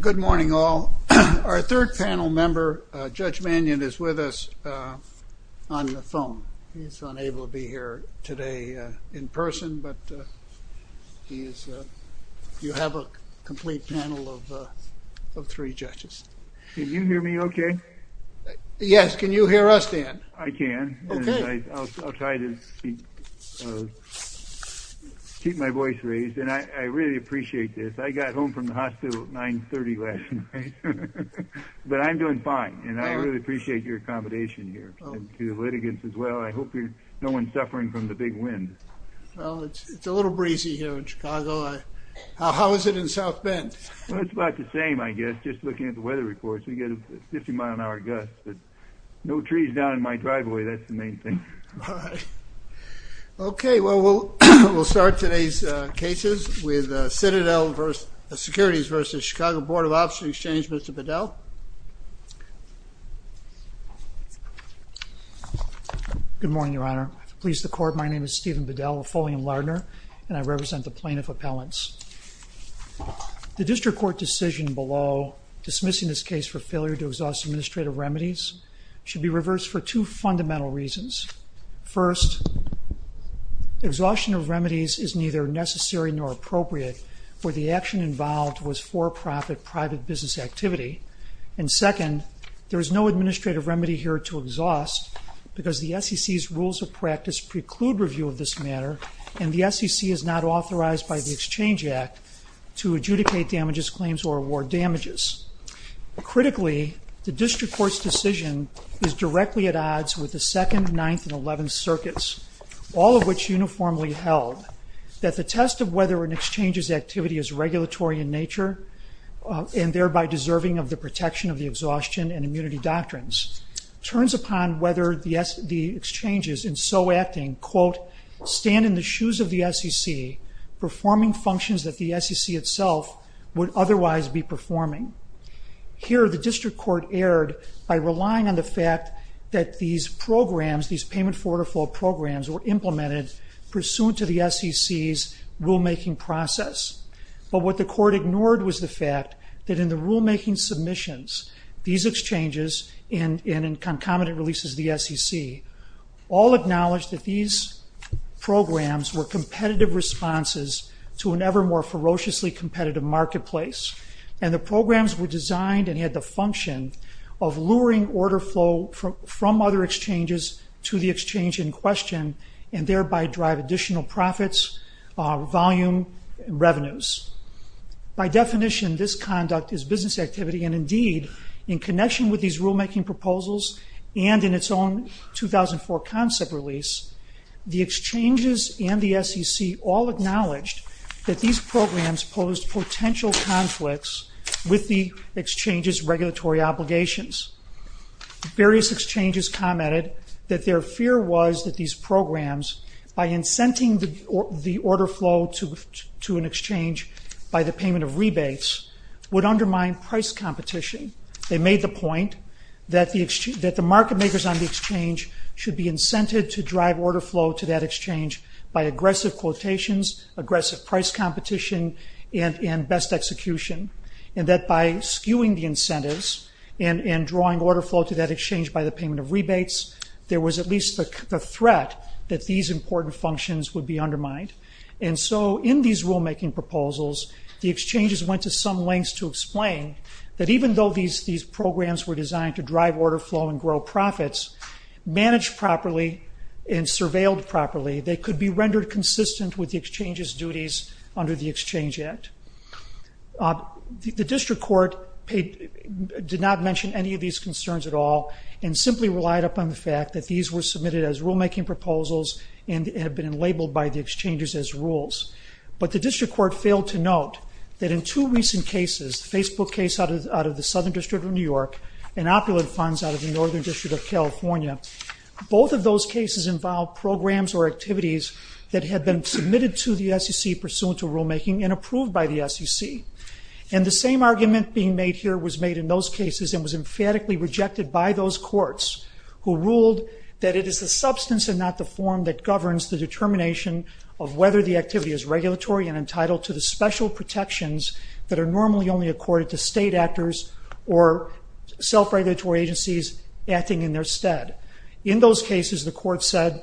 Good morning all. Our third panel member, Judge Mannion, is with us on the phone. He's unable to be here today in person, but you have a complete panel of three judges. Can you hear me okay? Yes, can you hear us, Dan? I can. Okay. I'll try to keep my voice raised, and I really appreciate this. I got home from the hospital at 930 last night, but I'm doing fine, and I really appreciate your accommodation here, and to the litigants as well. I hope no one's suffering from the big wind. Well, it's a little breezy here in Chicago. How is it in South Bend? It's about the same, I guess, just looking at the weather reports. We get a 50 mile an hour gust, but no trees down in my driveway. That's the main thing. Okay. Well, we'll start today's cases with Citadel Securities v. Chicago Board of Options Exchange. Mr. Bedell. Good morning, Your Honor. To please the court, my name is Stephen Bedell, a Fulham Lardner, and I represent the plaintiff appellants. The district court decision below dismissing this case for failure to exhaust administrative remedies should be reversed for two fundamental reasons. First, exhaustion of remedies is neither necessary nor appropriate where the action involved was for-profit private business activity, and second, there is no administrative remedy here to exhaust because the SEC's rules of practice preclude review of this matter, and the SEC is not authorized by the district court's decision is directly at odds with the second, ninth, and eleventh circuits, all of which uniformly held that the test of whether an exchange's activity is regulatory in nature and thereby deserving of the protection of the exhaustion and immunity doctrines turns upon whether the exchanges in so acting, quote, stand in the shoes of the SEC performing functions that the SEC itself would otherwise be performing. Here, the district court erred by relying on the fact that these programs, these payment forward or fall programs, were implemented pursuant to the SEC's rulemaking process, but what the court ignored was the fact that in the rulemaking submissions, these exchanges and in concomitant releases of the SEC all acknowledged that these programs were competitive responses to an ever more ferociously competitive marketplace, and the programs were designed and had the function of luring order flow from other exchanges to the exchange in question and thereby drive additional profits, volume, revenues. By definition, this conduct is business activity and indeed, in connection with these rulemaking proposals and in its own 2004 concept release, the exchanges and the SEC all acknowledged that these programs posed potential conflicts with the exchanges' regulatory obligations. Various exchanges commented that their fear was that these programs, by incenting the order flow to an exchange by the payment of rebates, would undermine price competition. They made the point that the market makers on incentives to drive order flow to that exchange by aggressive quotations, aggressive price competition, and best execution, and that by skewing the incentives and drawing order flow to that exchange by the payment of rebates, there was at least the threat that these important functions would be undermined. And so in these rulemaking proposals, the exchanges went to some lengths to explain that even though these programs were designed to drive properly and surveilled properly, they could be rendered consistent with the exchanges' duties under the Exchange Act. The district court did not mention any of these concerns at all and simply relied upon the fact that these were submitted as rulemaking proposals and have been labeled by the exchanges as rules. But the district court failed to note that in two recent cases, Facebook case out of the Southern District of New York and Opulent funds out of the those cases involved programs or activities that had been submitted to the SEC pursuant to rulemaking and approved by the SEC. And the same argument being made here was made in those cases and was emphatically rejected by those courts who ruled that it is the substance and not the form that governs the determination of whether the activity is regulatory and entitled to the special protections that are normally only accorded to state actors or self-regulatory agencies acting in their stead. In those cases, the court said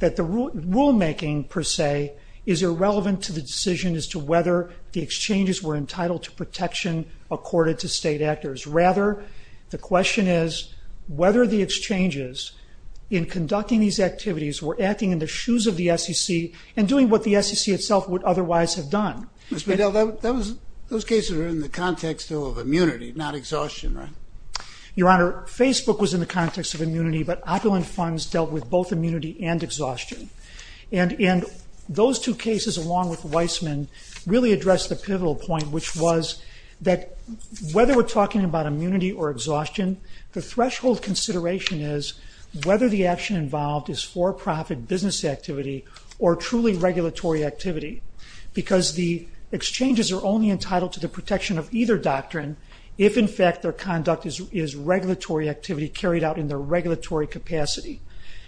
that the rule rulemaking per se is irrelevant to the decision as to whether the exchanges were entitled to protection accorded to state actors. Rather, the question is whether the exchanges in conducting these activities were acting in the shoes of the SEC and doing what the SEC itself would otherwise have done. Mr. Bedell, those cases are in the context of immunity, not exhaustion, right? Your Honor, Facebook was in the context of immunity but Opulent funds dealt with both immunity and exhaustion. And in those two cases along with Weissman really addressed the pivotal point which was that whether we're talking about immunity or exhaustion, the threshold consideration is whether the action involved is for-profit business activity or truly regulatory activity because the exchanges are only entitled to the protection of either doctrine if in fact their conduct is regulatory activity carried out in the regulatory capacity.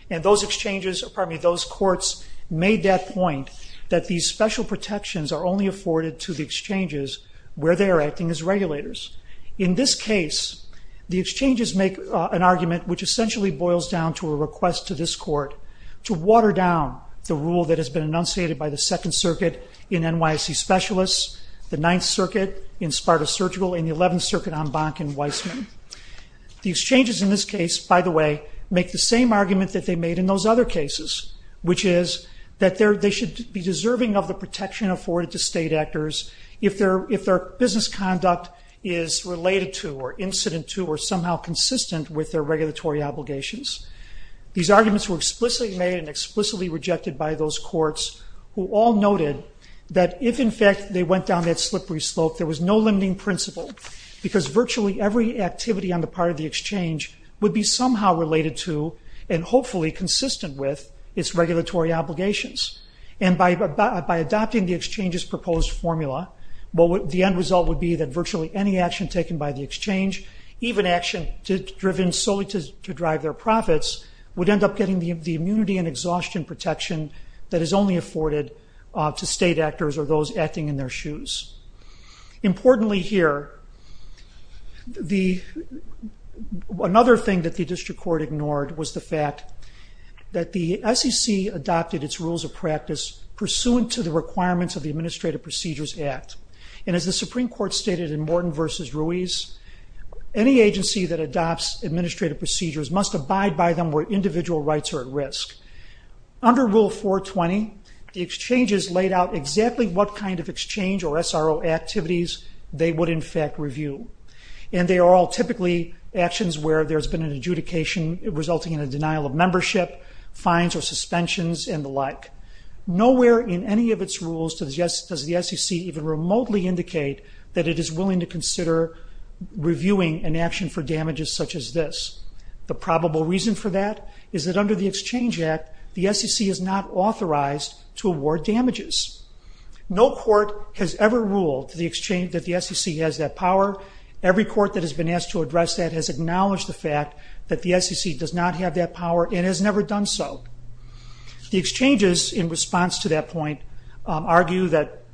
And those exchanges, pardon me, those courts made that point that these special protections are only afforded to the exchanges where they are acting as regulators. In this case, the exchanges make an argument which essentially boils down to a request to this court to water down the rule that has been enunciated by the Second Circuit in NYC Specialists, the Ninth Circuit in Sparta Surgical, and the Eleventh Circuit on Bank and Weissman. The exchanges in this case, by the way, make the same argument that they made in those other cases which is that they should be deserving of the protection afforded to state actors if their business conduct is related to or incident to or somehow consistent with their regulatory obligations. These arguments were explicitly made and explicitly rejected by those courts who all noted that if in fact they went down that slippery slope, there was no limiting principle because virtually every activity on the part of the exchange would be somehow related to and hopefully consistent with its regulatory obligations. And by adopting the exchange's proposed formula, the end result would be that virtually any action taken by the exchange, even action driven solely to drive their profits, would end up getting the immunity and exhaustion protection that is only afforded to state actors or those acting in their shoes. Importantly here, another thing that the district court ignored was the fact that the SEC adopted its rules of practice pursuant to the requirements of the Administrative Procedures Act. And as the Supreme Court stated in Morton v. Ruiz, any agency that adopts administrative procedures must abide by them where individual rights are at risk. Under Rule 420, the exchanges laid out exactly what kind of exchange or SRO activities they would in fact review. And they are all typically actions where there's been an adjudication resulting in a denial of membership, fines or suspensions and the like. Nowhere in any of its rules does the SEC even remotely indicate that it is willing to consider reviewing an action for damages such as this. The probable reason for that is that under the Exchange Act, the SEC is not authorized to award damages. No court has ever ruled that the SEC has that power. Every court that has been asked to address that has acknowledged the fact that the SEC does not have that power and has never done so. The exchanges in response to that point argue that,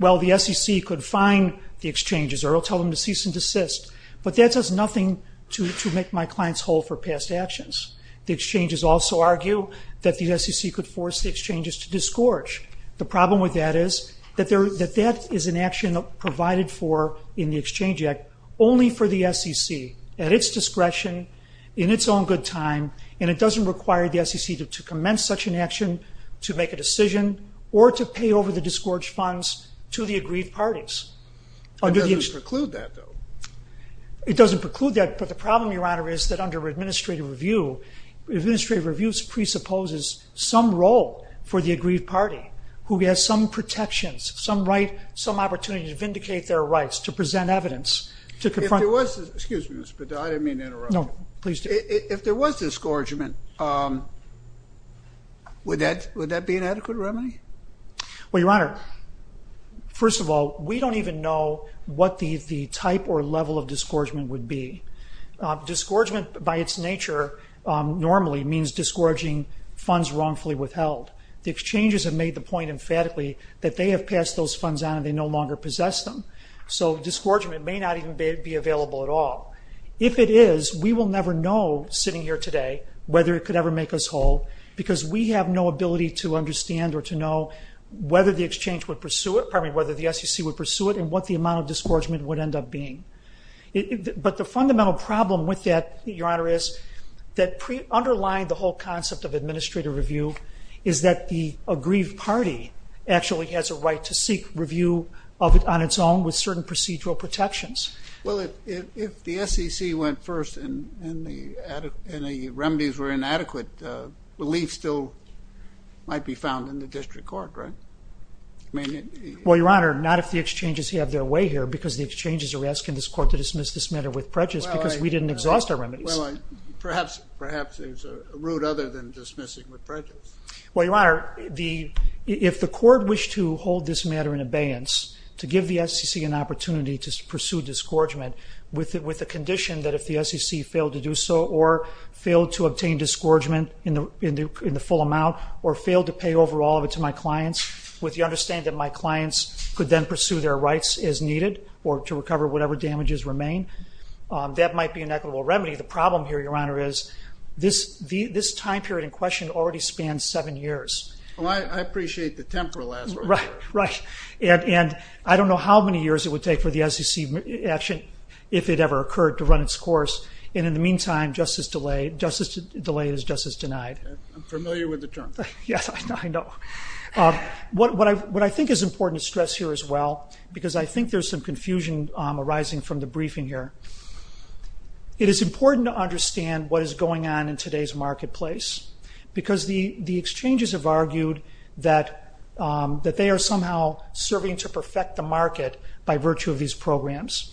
well, the SEC could fine the exchanges or tell them to cease and desist, but that does nothing to make my clients whole for past actions. The exchanges also argue that the SEC could force the exchanges to disgorge. The problem with that is that that is an action provided for in the Exchange Act only for the SEC at its discretion, in its own good time, and it doesn't require the SEC to commence such an action to make a decision or to pay over the disgorged funds to the agreed parties. It doesn't preclude that, though. It doesn't preclude that, but the problem, Your Honor, is that under administrative review, administrative reviews presupposes some role for the agreed party who has some protections, some right, some opportunity to vindicate their rights, to present evidence. If there was, excuse me, Mr. Bedard, I didn't mean to interrupt. No, please do. If there was disgorgement, would that be an adequate remedy? Well, Your Honor, first of all, we don't even know what the type or level of disgorgement would be. Disgorgement by its nature normally means disgorging funds wrongfully withheld. The exchanges have made the point emphatically that they have passed those funds on and they no disgorgement may not even be available at all. If it is, we will never know, sitting here today, whether it could ever make us whole because we have no ability to understand or to know whether the exchange would pursue it, pardon me, whether the SEC would pursue it and what the amount of disgorgement would end up being. But the fundamental problem with that, Your Honor, is that underlying the whole concept of administrative review is that the agreed party actually has a right to seek review of it on its own with certain procedural protections. Well, if the SEC went first and the remedies were inadequate, relief still might be found in the district court, right? Well, Your Honor, not if the exchanges have their way here because the exchanges are asking this court to dismiss this matter with prejudice because we didn't exhaust our remedies. Well, perhaps there's a route other than dismissing with prejudice. Well, Your Honor, if the court wished to hold this matter in abeyance, to give the SEC an opportunity to pursue disgorgement with the condition that if the SEC failed to do so or failed to obtain disgorgement in the full amount or failed to pay over all of it to my clients with the understanding that my clients could then pursue their rights as needed or to recover whatever damages remain, that might be an equitable remedy. The problem here, Your Honor, is this time period in question already spans seven years. Well, I appreciate the temporal aspect. Right, right. And I don't know how many years it would take for the SEC action, if it ever occurred, to run its course. And in the meantime, justice delayed is justice denied. I'm familiar with the term. Yes, I know. What I think is important to stress here as well, because I think there's some confusion arising from the briefing here, it is important to emphasize marketplace, because the exchanges have argued that they are somehow serving to perfect the market by virtue of these programs.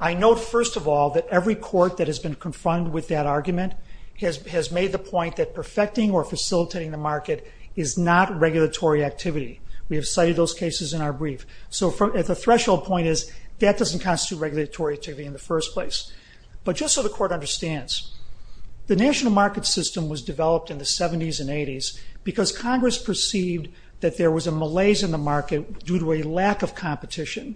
I note, first of all, that every court that has been confronted with that argument has made the point that perfecting or facilitating the market is not regulatory activity. We have cited those cases in our brief. So the threshold point is that doesn't constitute regulatory activity in the first place. But just so the court understands, the national market system was developed in the 70s and 80s because Congress perceived that there was a malaise in the market due to a lack of competition.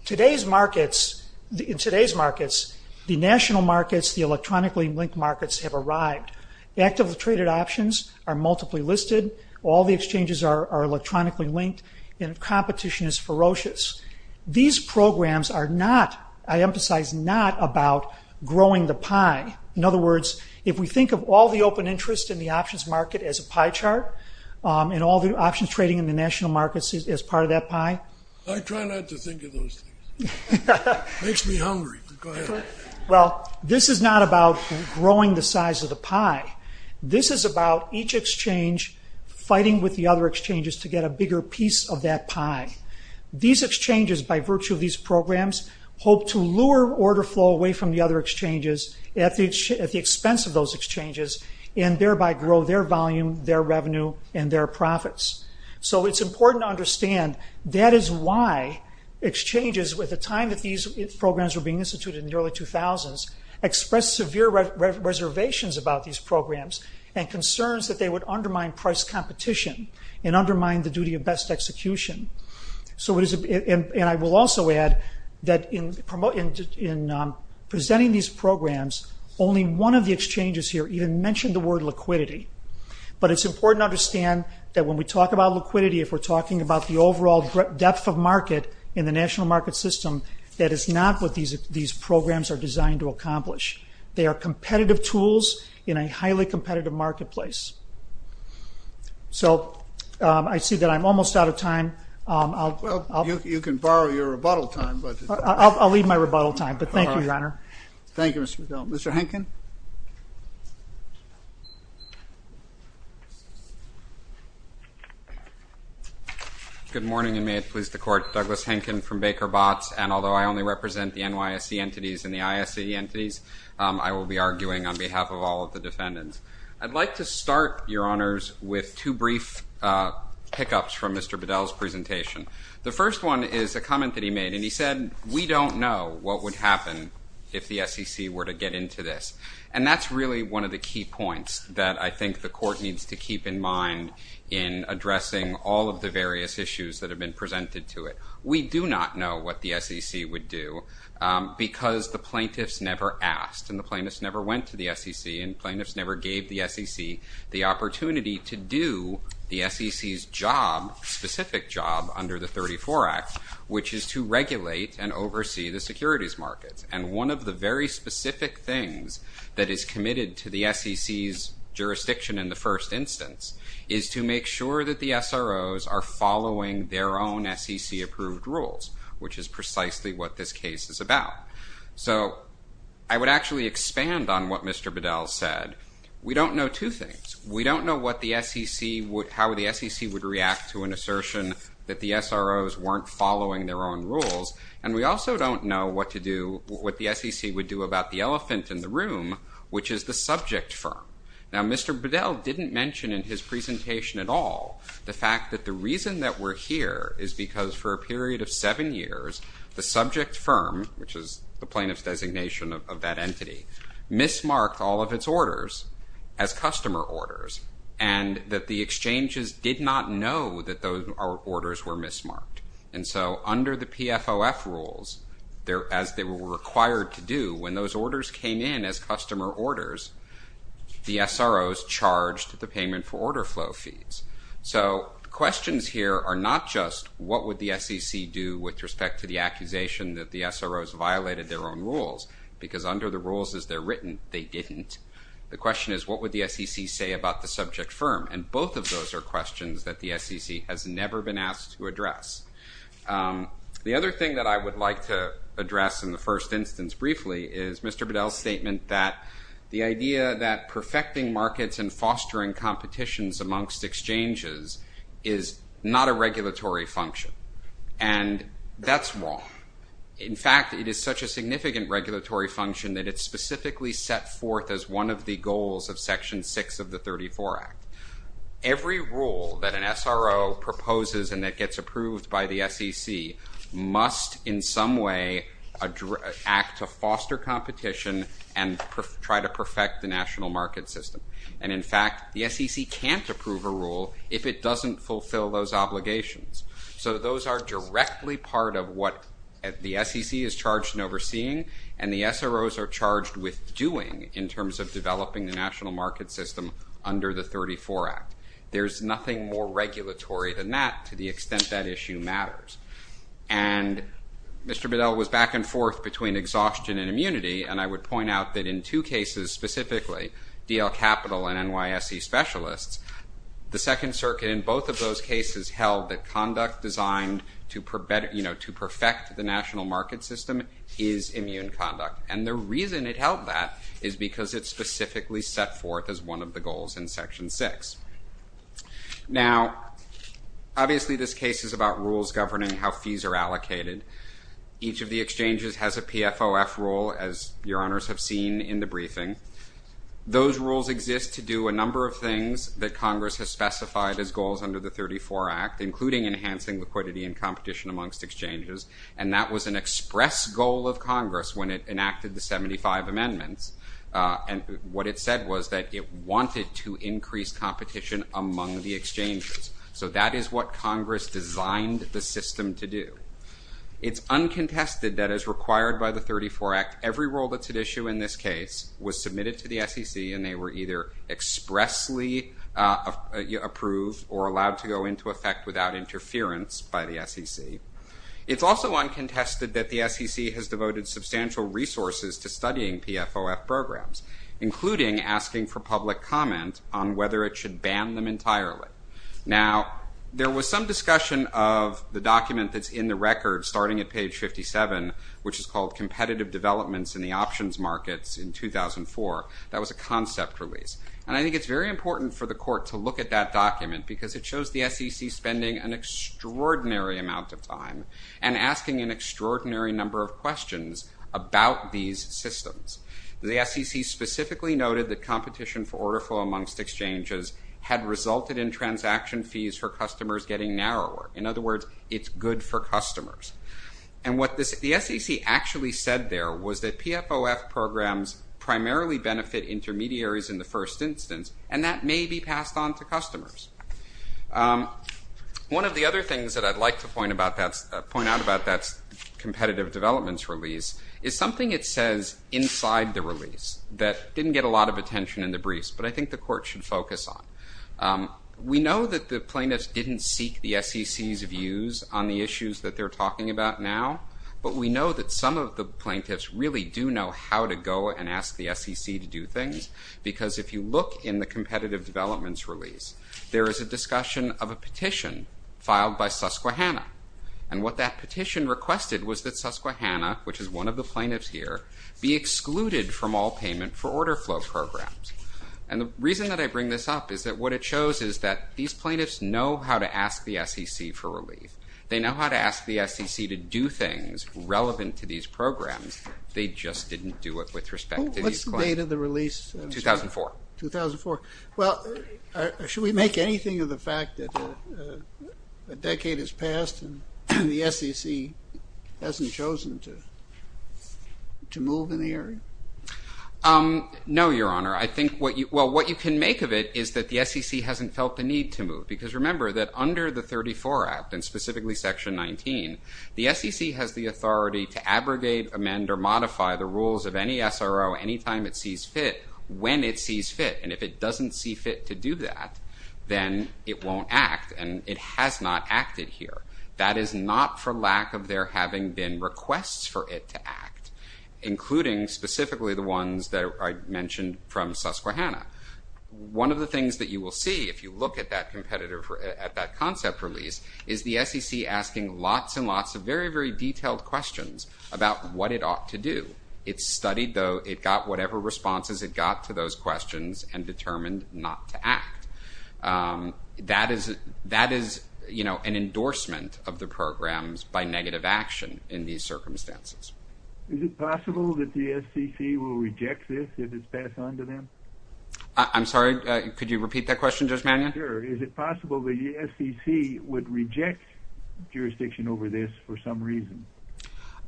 In today's markets, the national markets, the electronically linked markets, have arrived. Actively traded options are multiply listed. All the exchanges are electronically linked, and competition is ferocious. These programs are not, I think, about growing the pie. In other words, if we think of all the open interest in the options market as a pie chart, and all the options trading in the national markets as part of that pie. I try not to think of those things. It makes me hungry. Go ahead. Well, this is not about growing the size of the pie. This is about each exchange fighting with the other exchanges to get a bigger piece of that pie. These exchanges lower order flow away from the other exchanges at the expense of those exchanges, and thereby grow their volume, their revenue, and their profits. So it's important to understand that is why exchanges, with the time that these programs were being instituted in the early 2000s, expressed severe reservations about these programs and concerns that they would undermine price competition and undermine the duty of best execution. And I will also add that in presenting these programs, only one of the exchanges here even mentioned the word liquidity. But it's important to understand that when we talk about liquidity, if we're talking about the overall depth of market in the national market system, that is not what these programs are designed to accomplish. They are competitive tools in a highly competitive marketplace. So I see that I'm almost out of time. Well, you can borrow your rebuttal time. I'll leave my rebuttal time, but thank you, Your Honor. Thank you, Mr. McGill. Mr. Henkin? Good morning, and may it please the Court. Douglas Henkin from Baker Botts, and although I only represent the NYSE entities and the ISE entities, I will be arguing on behalf of all of the defendants. I'd like to start, Your Honors, with two brief pickups from Mr. Bedell's presentation. The first one is a comment that he made, and he said, we don't know what would happen if the SEC were to get into this. And that's really one of the key points that I think the Court needs to keep in mind in addressing all of the various issues that have been presented to it. We do not know what the SEC would do because the plaintiffs never asked, and the plaintiffs never went to the SEC, and plaintiffs never gave the SEC the opportunity to do the SEC's job, specific job, under the 34 Act, which is to regulate and oversee the securities markets. And one of the very specific things that is committed to the SEC's jurisdiction in the first instance is to make sure that the SROs are following their own SEC-approved rules, which is precisely what this case is about. So I would actually expand on what Mr. Bedell said. We don't know two things. We don't know what the SEC would, how the SEC would react to an assertion that the SROs weren't following their own rules, and we also don't know what to do, what the SEC would do about the elephant in the room, which is the subject firm. Now Mr. Bedell didn't mention in his presentation at all the fact that the reason that we're here is because for a period of seven years, the subject firm, which is the plaintiff's designation of that entity, mismarked all of its orders as customer orders, and that the exchanges did not know that those orders were mismarked. And so under the PFOF rules, as they were required to do, when those orders came in as customer orders, the SROs charged the payment for order flow fees. So questions here are not just what would the SEC do with respect to the accusation that the SROs violated their own rules, because under the rules as they're written, they didn't. The question is what would the SEC say about the subject firm, and both of those are questions that the SEC has never been asked to address. The other thing that I would like to address in the first instance briefly is Mr. Bedell's statement that the idea that perfecting markets and fostering competitions amongst exchanges is not a regulatory function, and that's wrong. In fact, it is such a significant regulatory function that it's specifically set forth as one of the goals of Section 6 of the 34 Act. Every rule that an SRO proposes and that gets approved by the SEC must in some way act to foster competition and try to perfect the national market system. And in fact, the SEC can't approve a rule if it doesn't fulfill those obligations. So those are directly part of what the SEC is charged in overseeing, and the SROs are charged with doing in terms of developing the national market system under the 34 Act. There's nothing more regulatory than that to the extent that issue matters. And Mr. Bedell was back and forth between exhaustion and immunity, and I would point out that in two cases specifically, DL Capital and NYSE specialists, the Second Circuit in both of those cases held that conduct designed to perfect the national market system is immune conduct. And the reason it held that is because it's specifically set forth as one of the goals in Section 6. Now, obviously this case is about rules governing how fees are allocated. Each of the exchanges has a PFOF rule, as your honors have seen in the briefing. Those rules exist to do a number of things that Congress has specified as goals under the 34 Act, including enhancing liquidity and competition amongst exchanges. And that was an express goal of Congress when it enacted the 75 Amendments. And what it said was that it wanted to increase competition among the exchanges. So that is what Congress designed the system to do. It's uncontested that as required by the 34 Act, every rule that's at issue in this case was submitted to the SEC, and they were either expressly approved or allowed to go into effect without interference by the SEC. It's also uncontested that the SEC has devoted substantial resources to studying PFOF programs, including asking for public comment on whether it should ban them entirely. Now, there was some discussion of the document that's in the record starting at page 57, which is called And I think it's very important for the court to look at that document because it shows the SEC spending an extraordinary amount of time and asking an extraordinary number of questions about these systems. The SEC specifically noted that competition for order flow amongst exchanges had resulted in transaction fees for customers getting narrower. In other words, it's good for customers. And what the SEC actually said there was that PFOF programs primarily benefit intermediaries in the first instance, and that may be passed on to customers. One of the other things that I'd like to point out about that competitive developments release is something it says inside the release that didn't get a lot of attention in the briefs, but I think the court should focus on. We know that the plaintiffs didn't seek the SEC's views on the issues that they're talking about now, but we know that some of the plaintiffs really do know how to go and ask the SEC to do things, because if you look in the competitive developments release, there is a discussion of a petition filed by Susquehanna. And what that petition requested was that Susquehanna, which is one of the plaintiffs here, be excluded from all payment for order flow programs. And the reason that I bring this up is that what it shows is that these plaintiffs know how to ask the SEC for relief. They know how to ask the SEC to do things relevant to these programs. They just didn't do it with respect to these claims. What's the date of the release? 2004. 2004. Well, should we make anything of the fact that a decade has passed and the SEC hasn't chosen to move in the area? No, Your Honor. I think what you, well, what you can make of it is that the SEC hasn't felt the need to move, because remember that under the 34 Act, and the SEC has the authority to abrogate, amend, or modify the rules of any SRO anytime it sees fit, when it sees fit. And if it doesn't see fit to do that, then it won't act. And it has not acted here. That is not for lack of there having been requests for it to act, including specifically the ones that I mentioned from Susquehanna. One of the things that you will see if you look at that concept release, is the SEC asking lots and lots of very, very detailed questions about what it ought to do. It studied, though, it got whatever responses it got to those questions, and determined not to act. That is, that is, you know, an endorsement of the programs by negative action in these circumstances. Is it possible that the SEC will reject this if it's passed on to them? I'm sorry, could you repeat that question, Judge Mannion? Sure. Is it possible that the SEC would reject jurisdiction over this for some reason?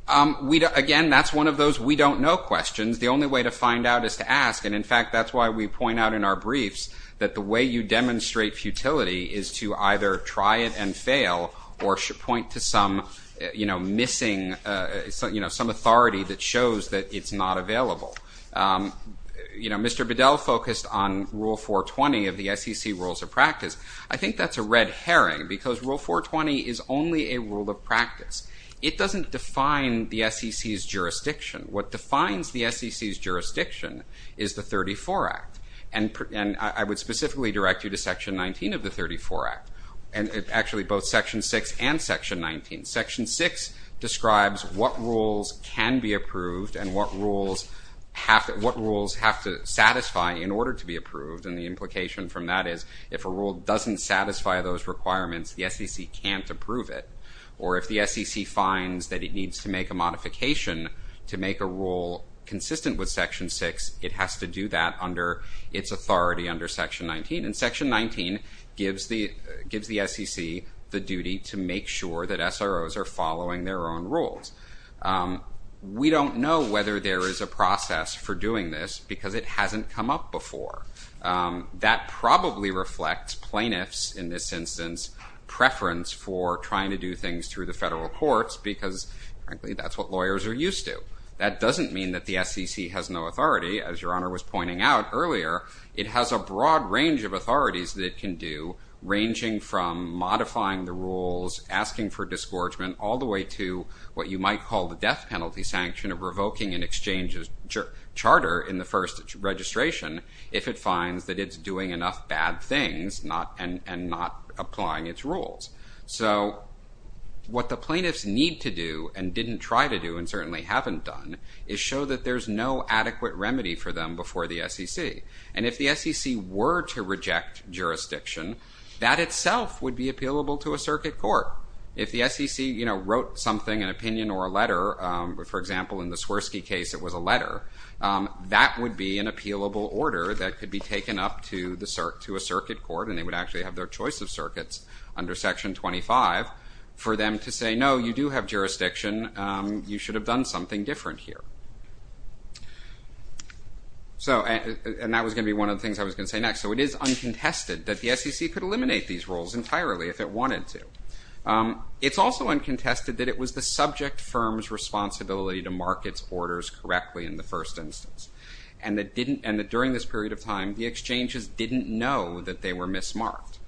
Again, that's one of those we don't know questions. The only way to find out is to ask, and in fact, that's why we point out in our briefs that the way you demonstrate futility is to either try it and fail, or point to some, you know, missing, you know, some authority that shows that it's not available. You know, Mr. Bedell focused on Rule 420 of the SEC Rules of Practice. I think that's a red herring, because Rule 420 is only a rule of practice. It doesn't define the SEC's jurisdiction. What defines the SEC's jurisdiction is the 34 Act, and I would specifically direct you to Section 19 of the 34 Act, and actually both Section 6 and Section 19. Section 6 describes what rules can be approved and what rules have to satisfy in order to be approved, and the implication from that is if a rule doesn't satisfy those requirements, the SEC can't approve it, or if the SEC finds that it needs to make a modification to make a rule consistent with Section 6, it has to do that under its authority under Section 19, and Section 19 gives the SEC the duty to make sure that we don't know whether there is a process for doing this, because it hasn't come up before. That probably reflects plaintiffs, in this instance, preference for trying to do things through the federal courts, because frankly, that's what lawyers are used to. That doesn't mean that the SEC has no authority. As Your Honor was pointing out earlier, it has a broad range of authorities that it can do, ranging from modifying the rules, asking for disgorgement, all the way to what you might call the death penalty sanction of revoking an exchange charter in the first registration if it finds that it's doing enough bad things and not applying its rules. So what the plaintiffs need to do, and didn't try to do, and certainly haven't done, is show that there's no adequate remedy for them before the SEC, and if the SEC were to reject jurisdiction, that itself would be appealable to a circuit court. If the SEC wrote something, an opinion or a letter, for example, in the Swirsky case, it was a letter, that would be an appealable order that could be taken up to a circuit court and they would actually have their choice of circuits under Section 25, for them to say, no, you do have jurisdiction, you should have done something different here. And that was going to be one of the things I was going to say next. So it is uncontested that the SEC could eliminate these rules entirely if it wanted to. It's also uncontested that it was the subject firm's responsibility to mark its orders correctly in the first instance. And that during this period of time, the exchanges didn't know that they were mismarked.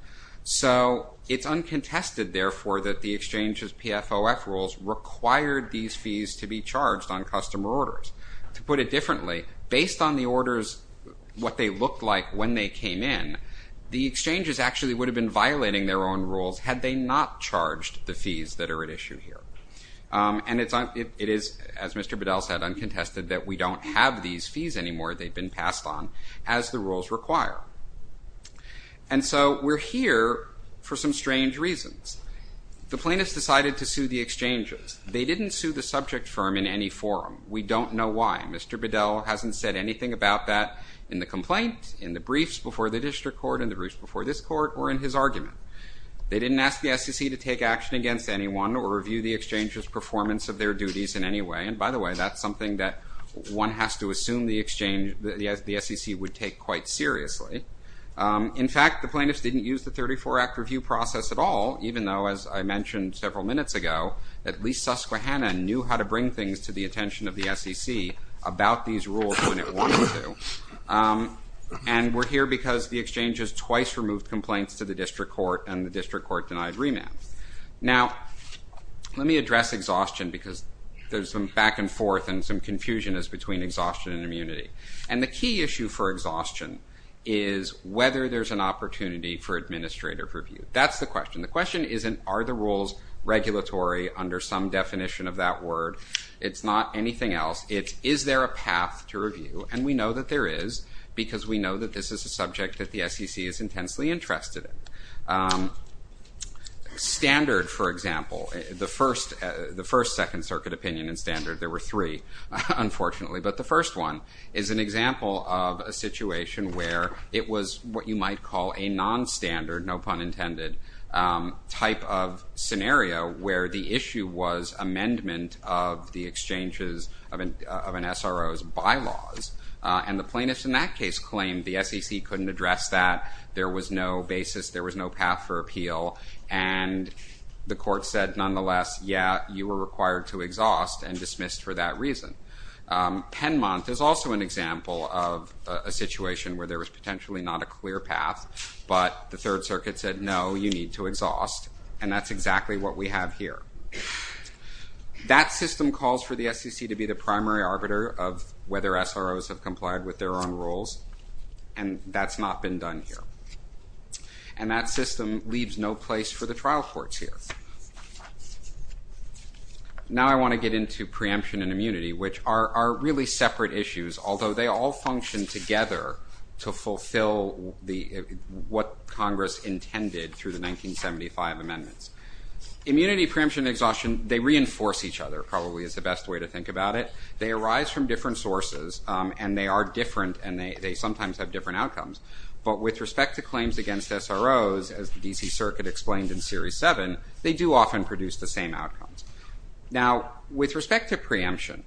So it's uncontested, therefore, that the exchange's PFOF rules required these fees to be charged on customer orders. To put it differently, based on the orders, what they looked like when they came in, the exchanges actually would have been violating their own rules had they not charged the fees that are at issue here. And it is, as Mr. Bedell said, uncontested that we don't have these fees anymore they've been passed on as the rules require. And so we're here for some strange reasons. The plaintiffs decided to sue the exchanges. They didn't sue the subject firm in any forum. We don't know why. Mr. Bedell hasn't said anything about that in the complaint, in the briefs before the district court, in the briefs before this court, or in his argument. They didn't ask the SEC to take action against anyone or review the exchange's performance of their duties in any way. And by the way, that's something that one has to assume the SEC would take quite seriously. In fact, the plaintiffs didn't use the 34-Act review process at all, even though, as I mentioned several minutes ago, at least Susquehanna knew how to bring things to the attention of the SEC about these rules when it wanted to. And we're here because the exchanges twice removed complaints to the district court, and the district court denied remand. Now, let me address exhaustion, because there's some back and forth and some confusion as between exhaustion and immunity. And the key issue for exhaustion is whether there's an opportunity for administrative review. That's the question. The question isn't, are the rules regulatory under some definition of that word? It's not anything else. It's, is there a path to review? And we know that there is, because we know that this is a subject that the SEC is intensely interested in. Standard, for example, the first Second Circuit opinion in Standard, there were three, unfortunately, but the first one is an example of a situation where it was what you might call a non-standard, no pun intended, type of scenario where the issue was amendment of the exchanges of an SRO's bylaws. And the plaintiffs in that case claimed the SEC couldn't address that, there was no basis, there was no path for appeal, and the court said nonetheless, yeah, you were required to exhaust and dismissed for that reason. Penmont is also an example of a situation where there was potentially not a clear path, but the Third Circuit said no, you need to exhaust and that's exactly what we have here. That system calls for the SEC to be the primary arbiter of whether SRO's have complied with their own rules and that's not been done here. And that system leaves no place for the trial courts here. Now I want to get into preemption and immunity which are really separate issues although they all function together to fulfill what Congress intended through the 1975 amendments. Immunity, preemption, and exhaustion they reinforce each other probably is the best way to think about it. They arise from different sources and they are different and they sometimes have different outcomes but with respect to claims against SRO's as the DC Circuit explained in series 7 they do often produce the same outcomes. Now with respect to preemption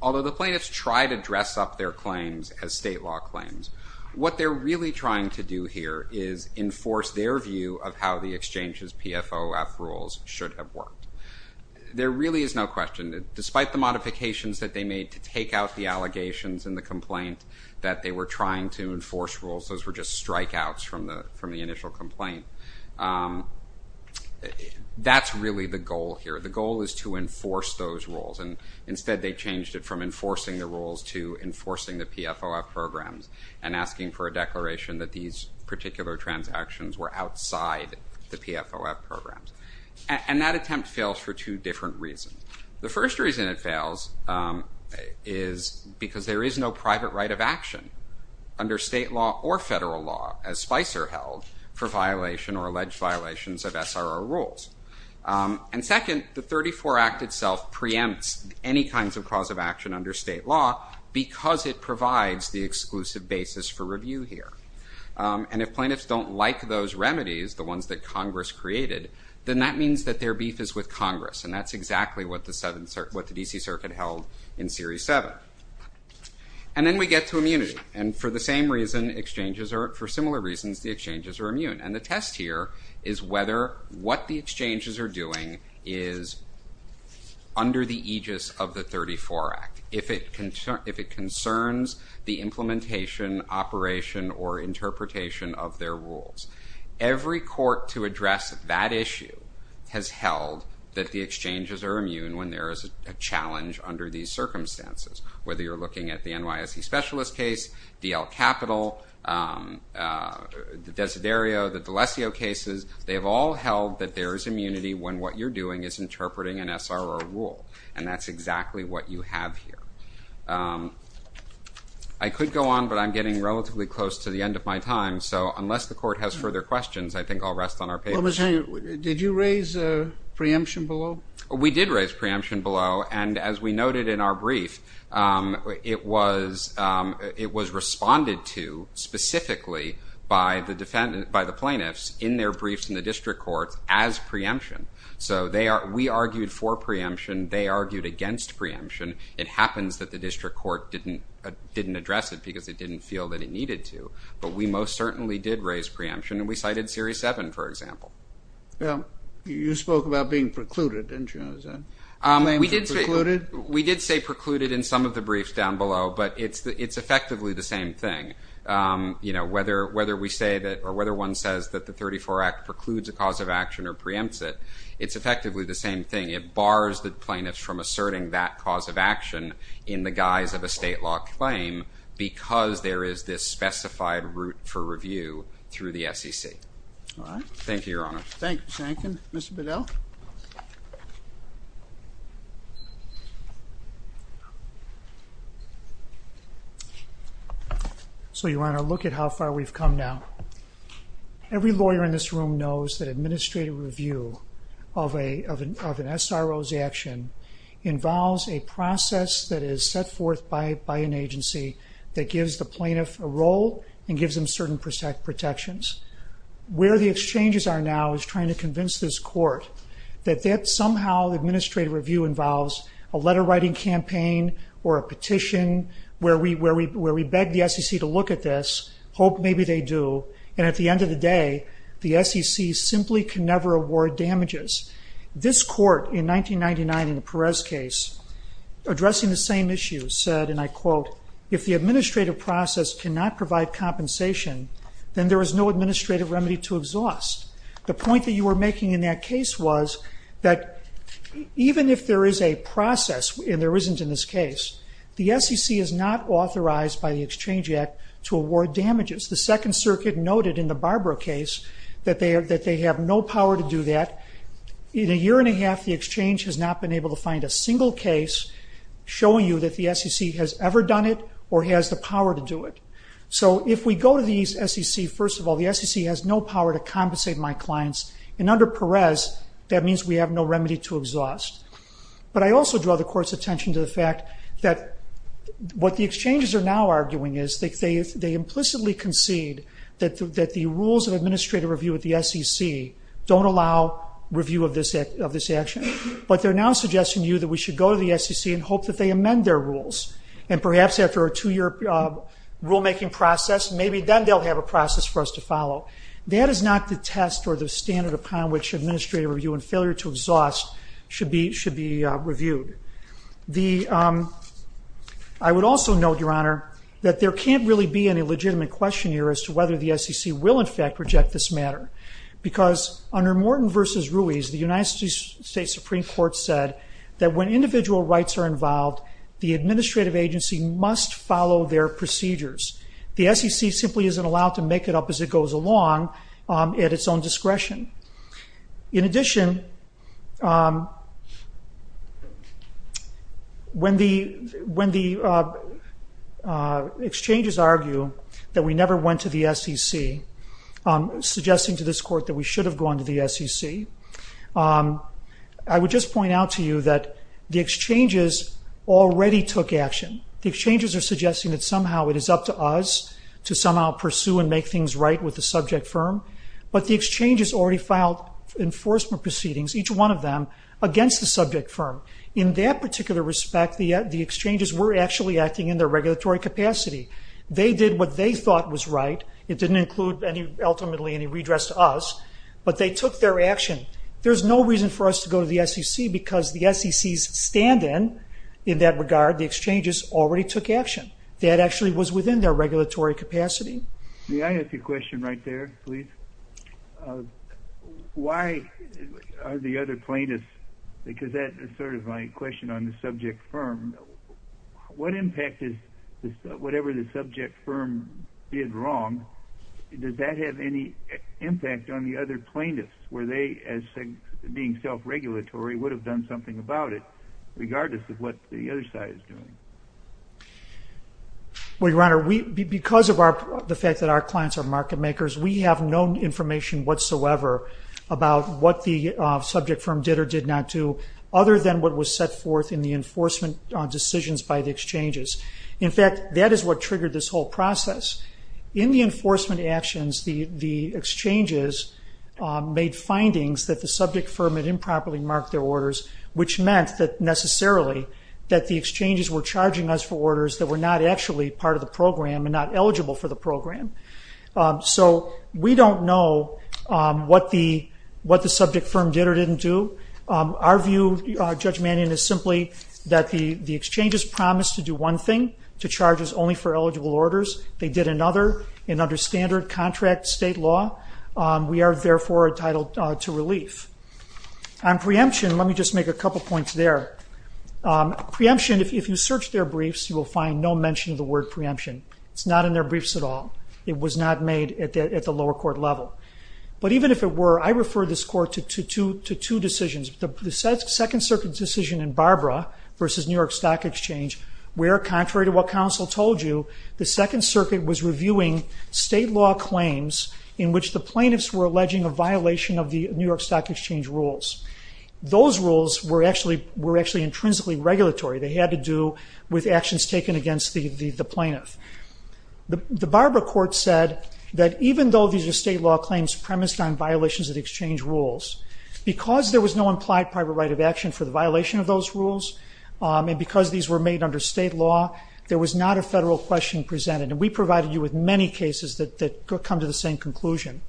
although the plaintiffs tried to dress up their claims as state law claims what they're really trying to do here is enforce their view of how the exchanges PFOF rules should have worked. There really is no question despite the modifications that they made to take out the allegations in the complaint that they were trying to enforce rules, those were just strikeouts from the initial complaint that's really the goal here. The goal is to enforce those rules and instead they changed it from enforcing the rules to enforcing the PFOF programs and asking for a declaration that these particular transactions were outside the PFOF programs. And that attempt fails for two different reasons. The first reason it fails is because there is no private right of action under state law or federal law as Spicer held for violation or alleged violations of SRO rules. And second the 34 Act itself preempts any kinds of cause of action under state law because it provides the exclusive basis for review here. And if plaintiffs don't like those remedies, the ones that Congress created, then that means that their beef is with Congress and that's exactly what the DC Circuit held in series 7. And then we get to immunity and for the same reason, for similar reasons, the exchanges are immune. And the test here is whether what the exchanges are doing is under the aegis of the 34 Act. If it concerns the implementation, operation or interpretation of their rules. Every court to address that issue has held that the exchanges are immune when there is a challenge under these circumstances. Whether you're looking at the NYSE specialist case, DL Capital, the Desiderio, the D'Alessio cases, they've all held that there is immunity when what you're doing is interpreting an SRO rule. And that's exactly what you have here. I could go on, but I'm getting relatively close to the end of my time, so unless the court has further questions, I think I'll rest on our papers. Did you raise preemption below? We did raise preemption below and as we noted in our brief, it was responded to specifically by the plaintiffs in their briefs in the district courts as preemption. We argued for preemption, they argued against preemption. It happens that the district court didn't address it because it didn't feel that it needed to. But we most certainly did raise preemption and we cited Series 7, for example. You spoke about being precluded, didn't you? We did say precluded in some of the briefs down below but it's effectively the same thing. Whether one says that the 34 Act precludes a cause of action or preempts it, it's effectively the same thing. It bars the plaintiffs from asserting that cause of action in the guise of a state law claim because there is this specified route for review through the SEC. Thank you, Your Honor. So, Your Honor, look at how far we've come now. Every lawyer in this room knows that administrative review of an SRO's action involves a process that is set forth by an agency that gives the plaintiff a role and gives them certain protections. Where the exchanges are now is trying to convince this court that somehow the administrative review involves a letter writing campaign or a petition where we beg the SEC to look at this, hope maybe they do and at the end of the day the SEC simply can never award damages. This court in 1999 in the Perez case addressing the same issue said, and I quote, if the administrative process cannot provide compensation, then there is no administrative remedy to exhaust. The point that you were making in that case was that even if there is a process, and there SEC is not authorized by the Exchange Act to award damages. The Second Circuit noted in the Barbara case that they have no power to do that. In a year and a half the Exchange has not been able to find a single case showing you that the SEC has ever done it or has the power to do it. So if we go to the SEC, first of all the SEC has no power to compensate my clients and under Perez that means we have no remedy to exhaust. But I also draw the court's attention to the fact that what the exchanges are now arguing is they implicitly concede that the rules of administrative review at the SEC don't allow review of this action. But they are now suggesting to you that we should go to the SEC and hope that they amend their rules. And perhaps after a two year rule making process maybe then they will have a process for us to follow. That is not the test or standard upon which administrative review and failure to exhaust should be reviewed. I would also note, Your Honor, that there can't really be any legitimate question here as to whether the SEC will in fact reject this matter. Because under Morton v. Ruiz, the United States Supreme Court said that when individual rights are involved, the administrative agency must follow their procedures. The SEC simply isn't allowed to make it up as it goes along at its own discretion. In addition um when the exchanges argue that we never went to the SEC suggesting to this court that we should have gone to the SEC I would just point out to you that the exchanges already took action. The exchanges are suggesting that somehow it is up to us to somehow pursue and make things right with the subject firm. But the exchanges already filed enforcement proceedings, each one of them against the subject firm. In that particular respect, the exchanges were actually acting in their regulatory capacity. They did what they thought was right. It didn't include ultimately any redress to us. But they took their action. There's no reason for us to go to the SEC because the SEC's stand-in in that regard, the exchanges, already took action. That actually was within their regulatory capacity. May I ask a question right there, please? Why are the other plaintiffs because that is sort of my question on the subject firm what impact is whatever the subject firm did wrong, does that have any impact on the other plaintiffs? Were they, as being self-regulatory, would have done something about it, regardless of what the other side is doing? Well, Your Honor, because of the fact that our information whatsoever about what the subject firm did or did not do, other than what was set forth in the enforcement decisions by the exchanges. In fact, that is what triggered this whole process. In the enforcement actions, the exchanges made findings that the subject firm had improperly marked their orders which meant that necessarily that the exchanges were charging us for orders that were not actually part of the program and not eligible for the program. So, we don't know what the subject firm did or didn't do. Our view, Judge Mannion, is simply that the exchanges promised to do one thing, to charge us only for eligible orders. They did another in under standard contract state law. We are therefore entitled to relief. On preemption, let me just make a couple points there. Preemption, if you search their briefs, you will find no mention of the word preemption. It's not in their briefs at all. It was not made at the lower court level. But even if it were, I refer this court to two decisions. The Second Circuit decision in Barbara versus New York Stock Exchange where, contrary to what counsel told you, the Second Circuit was reviewing state law claims in which the plaintiffs were alleging a violation of the New York Stock Exchange rules. Those rules were actually intrinsically regulatory. They had to do with actions taken against the plaintiff. The Barbara court said that even though these are state law claims premised on violations of the exchange rules, because there was no implied private right of action for the violation of those rules, and because these were made under state law, there was not a federal question presented. And we provided you with many cases that come to the same conclusion.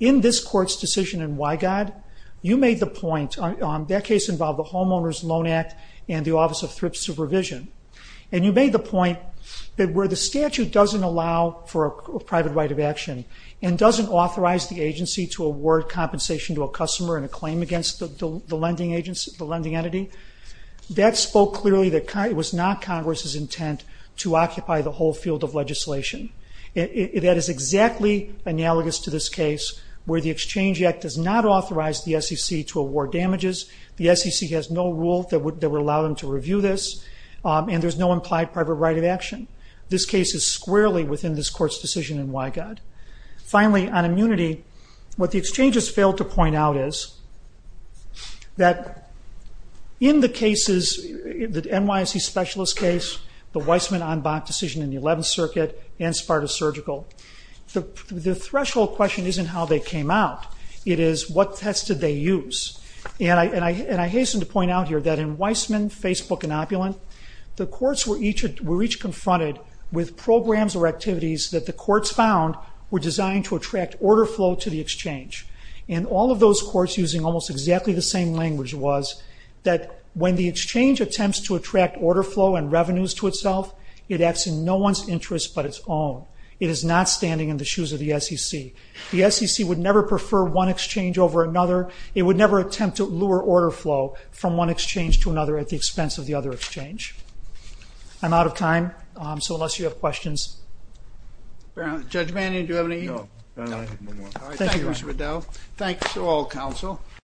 In this court's decision in Wygod, you made the point, that case involved the Homeowners Loan Act and the Exchange Act. And you made the point that where the statute doesn't allow for a private right of action and doesn't authorize the agency to award compensation to a customer in a claim against the lending entity, that spoke clearly that it was not Congress's intent to occupy the whole field of legislation. That is exactly analogous to this case where the Exchange Act does not authorize the SEC to award damages. The SEC has no rule that would allow them to review this, and there is no implied private right of action. This case is squarely within this court's decision in Wygod. Finally, on immunity, what the exchanges failed to point out is, that in the cases the NYSE specialist case, the Weissman-Anbach decision in the 11th Circuit, and Sparta Surgical, the threshold question isn't how they came out. It is, what test did they use? And I hasten to point out here, that in Weissman, Facebook, and Opulent, the courts were each confronted with programs or activities that the courts found were designed to attract order flow to the exchange. And all of those courts using almost exactly the same language was, that when the exchange attempts to attract order flow and revenues to itself, it acts in no one's interest but its own. It is not standing in the shoes of the SEC. The SEC would never prefer one exchange over another. It would never attempt to lure order flow from one exchange to another at the expense of the other exchange. I'm out of time so unless you have questions Judge Manning, do you have any? No. Thank you, Mr. Riddell. Thanks to all counsel.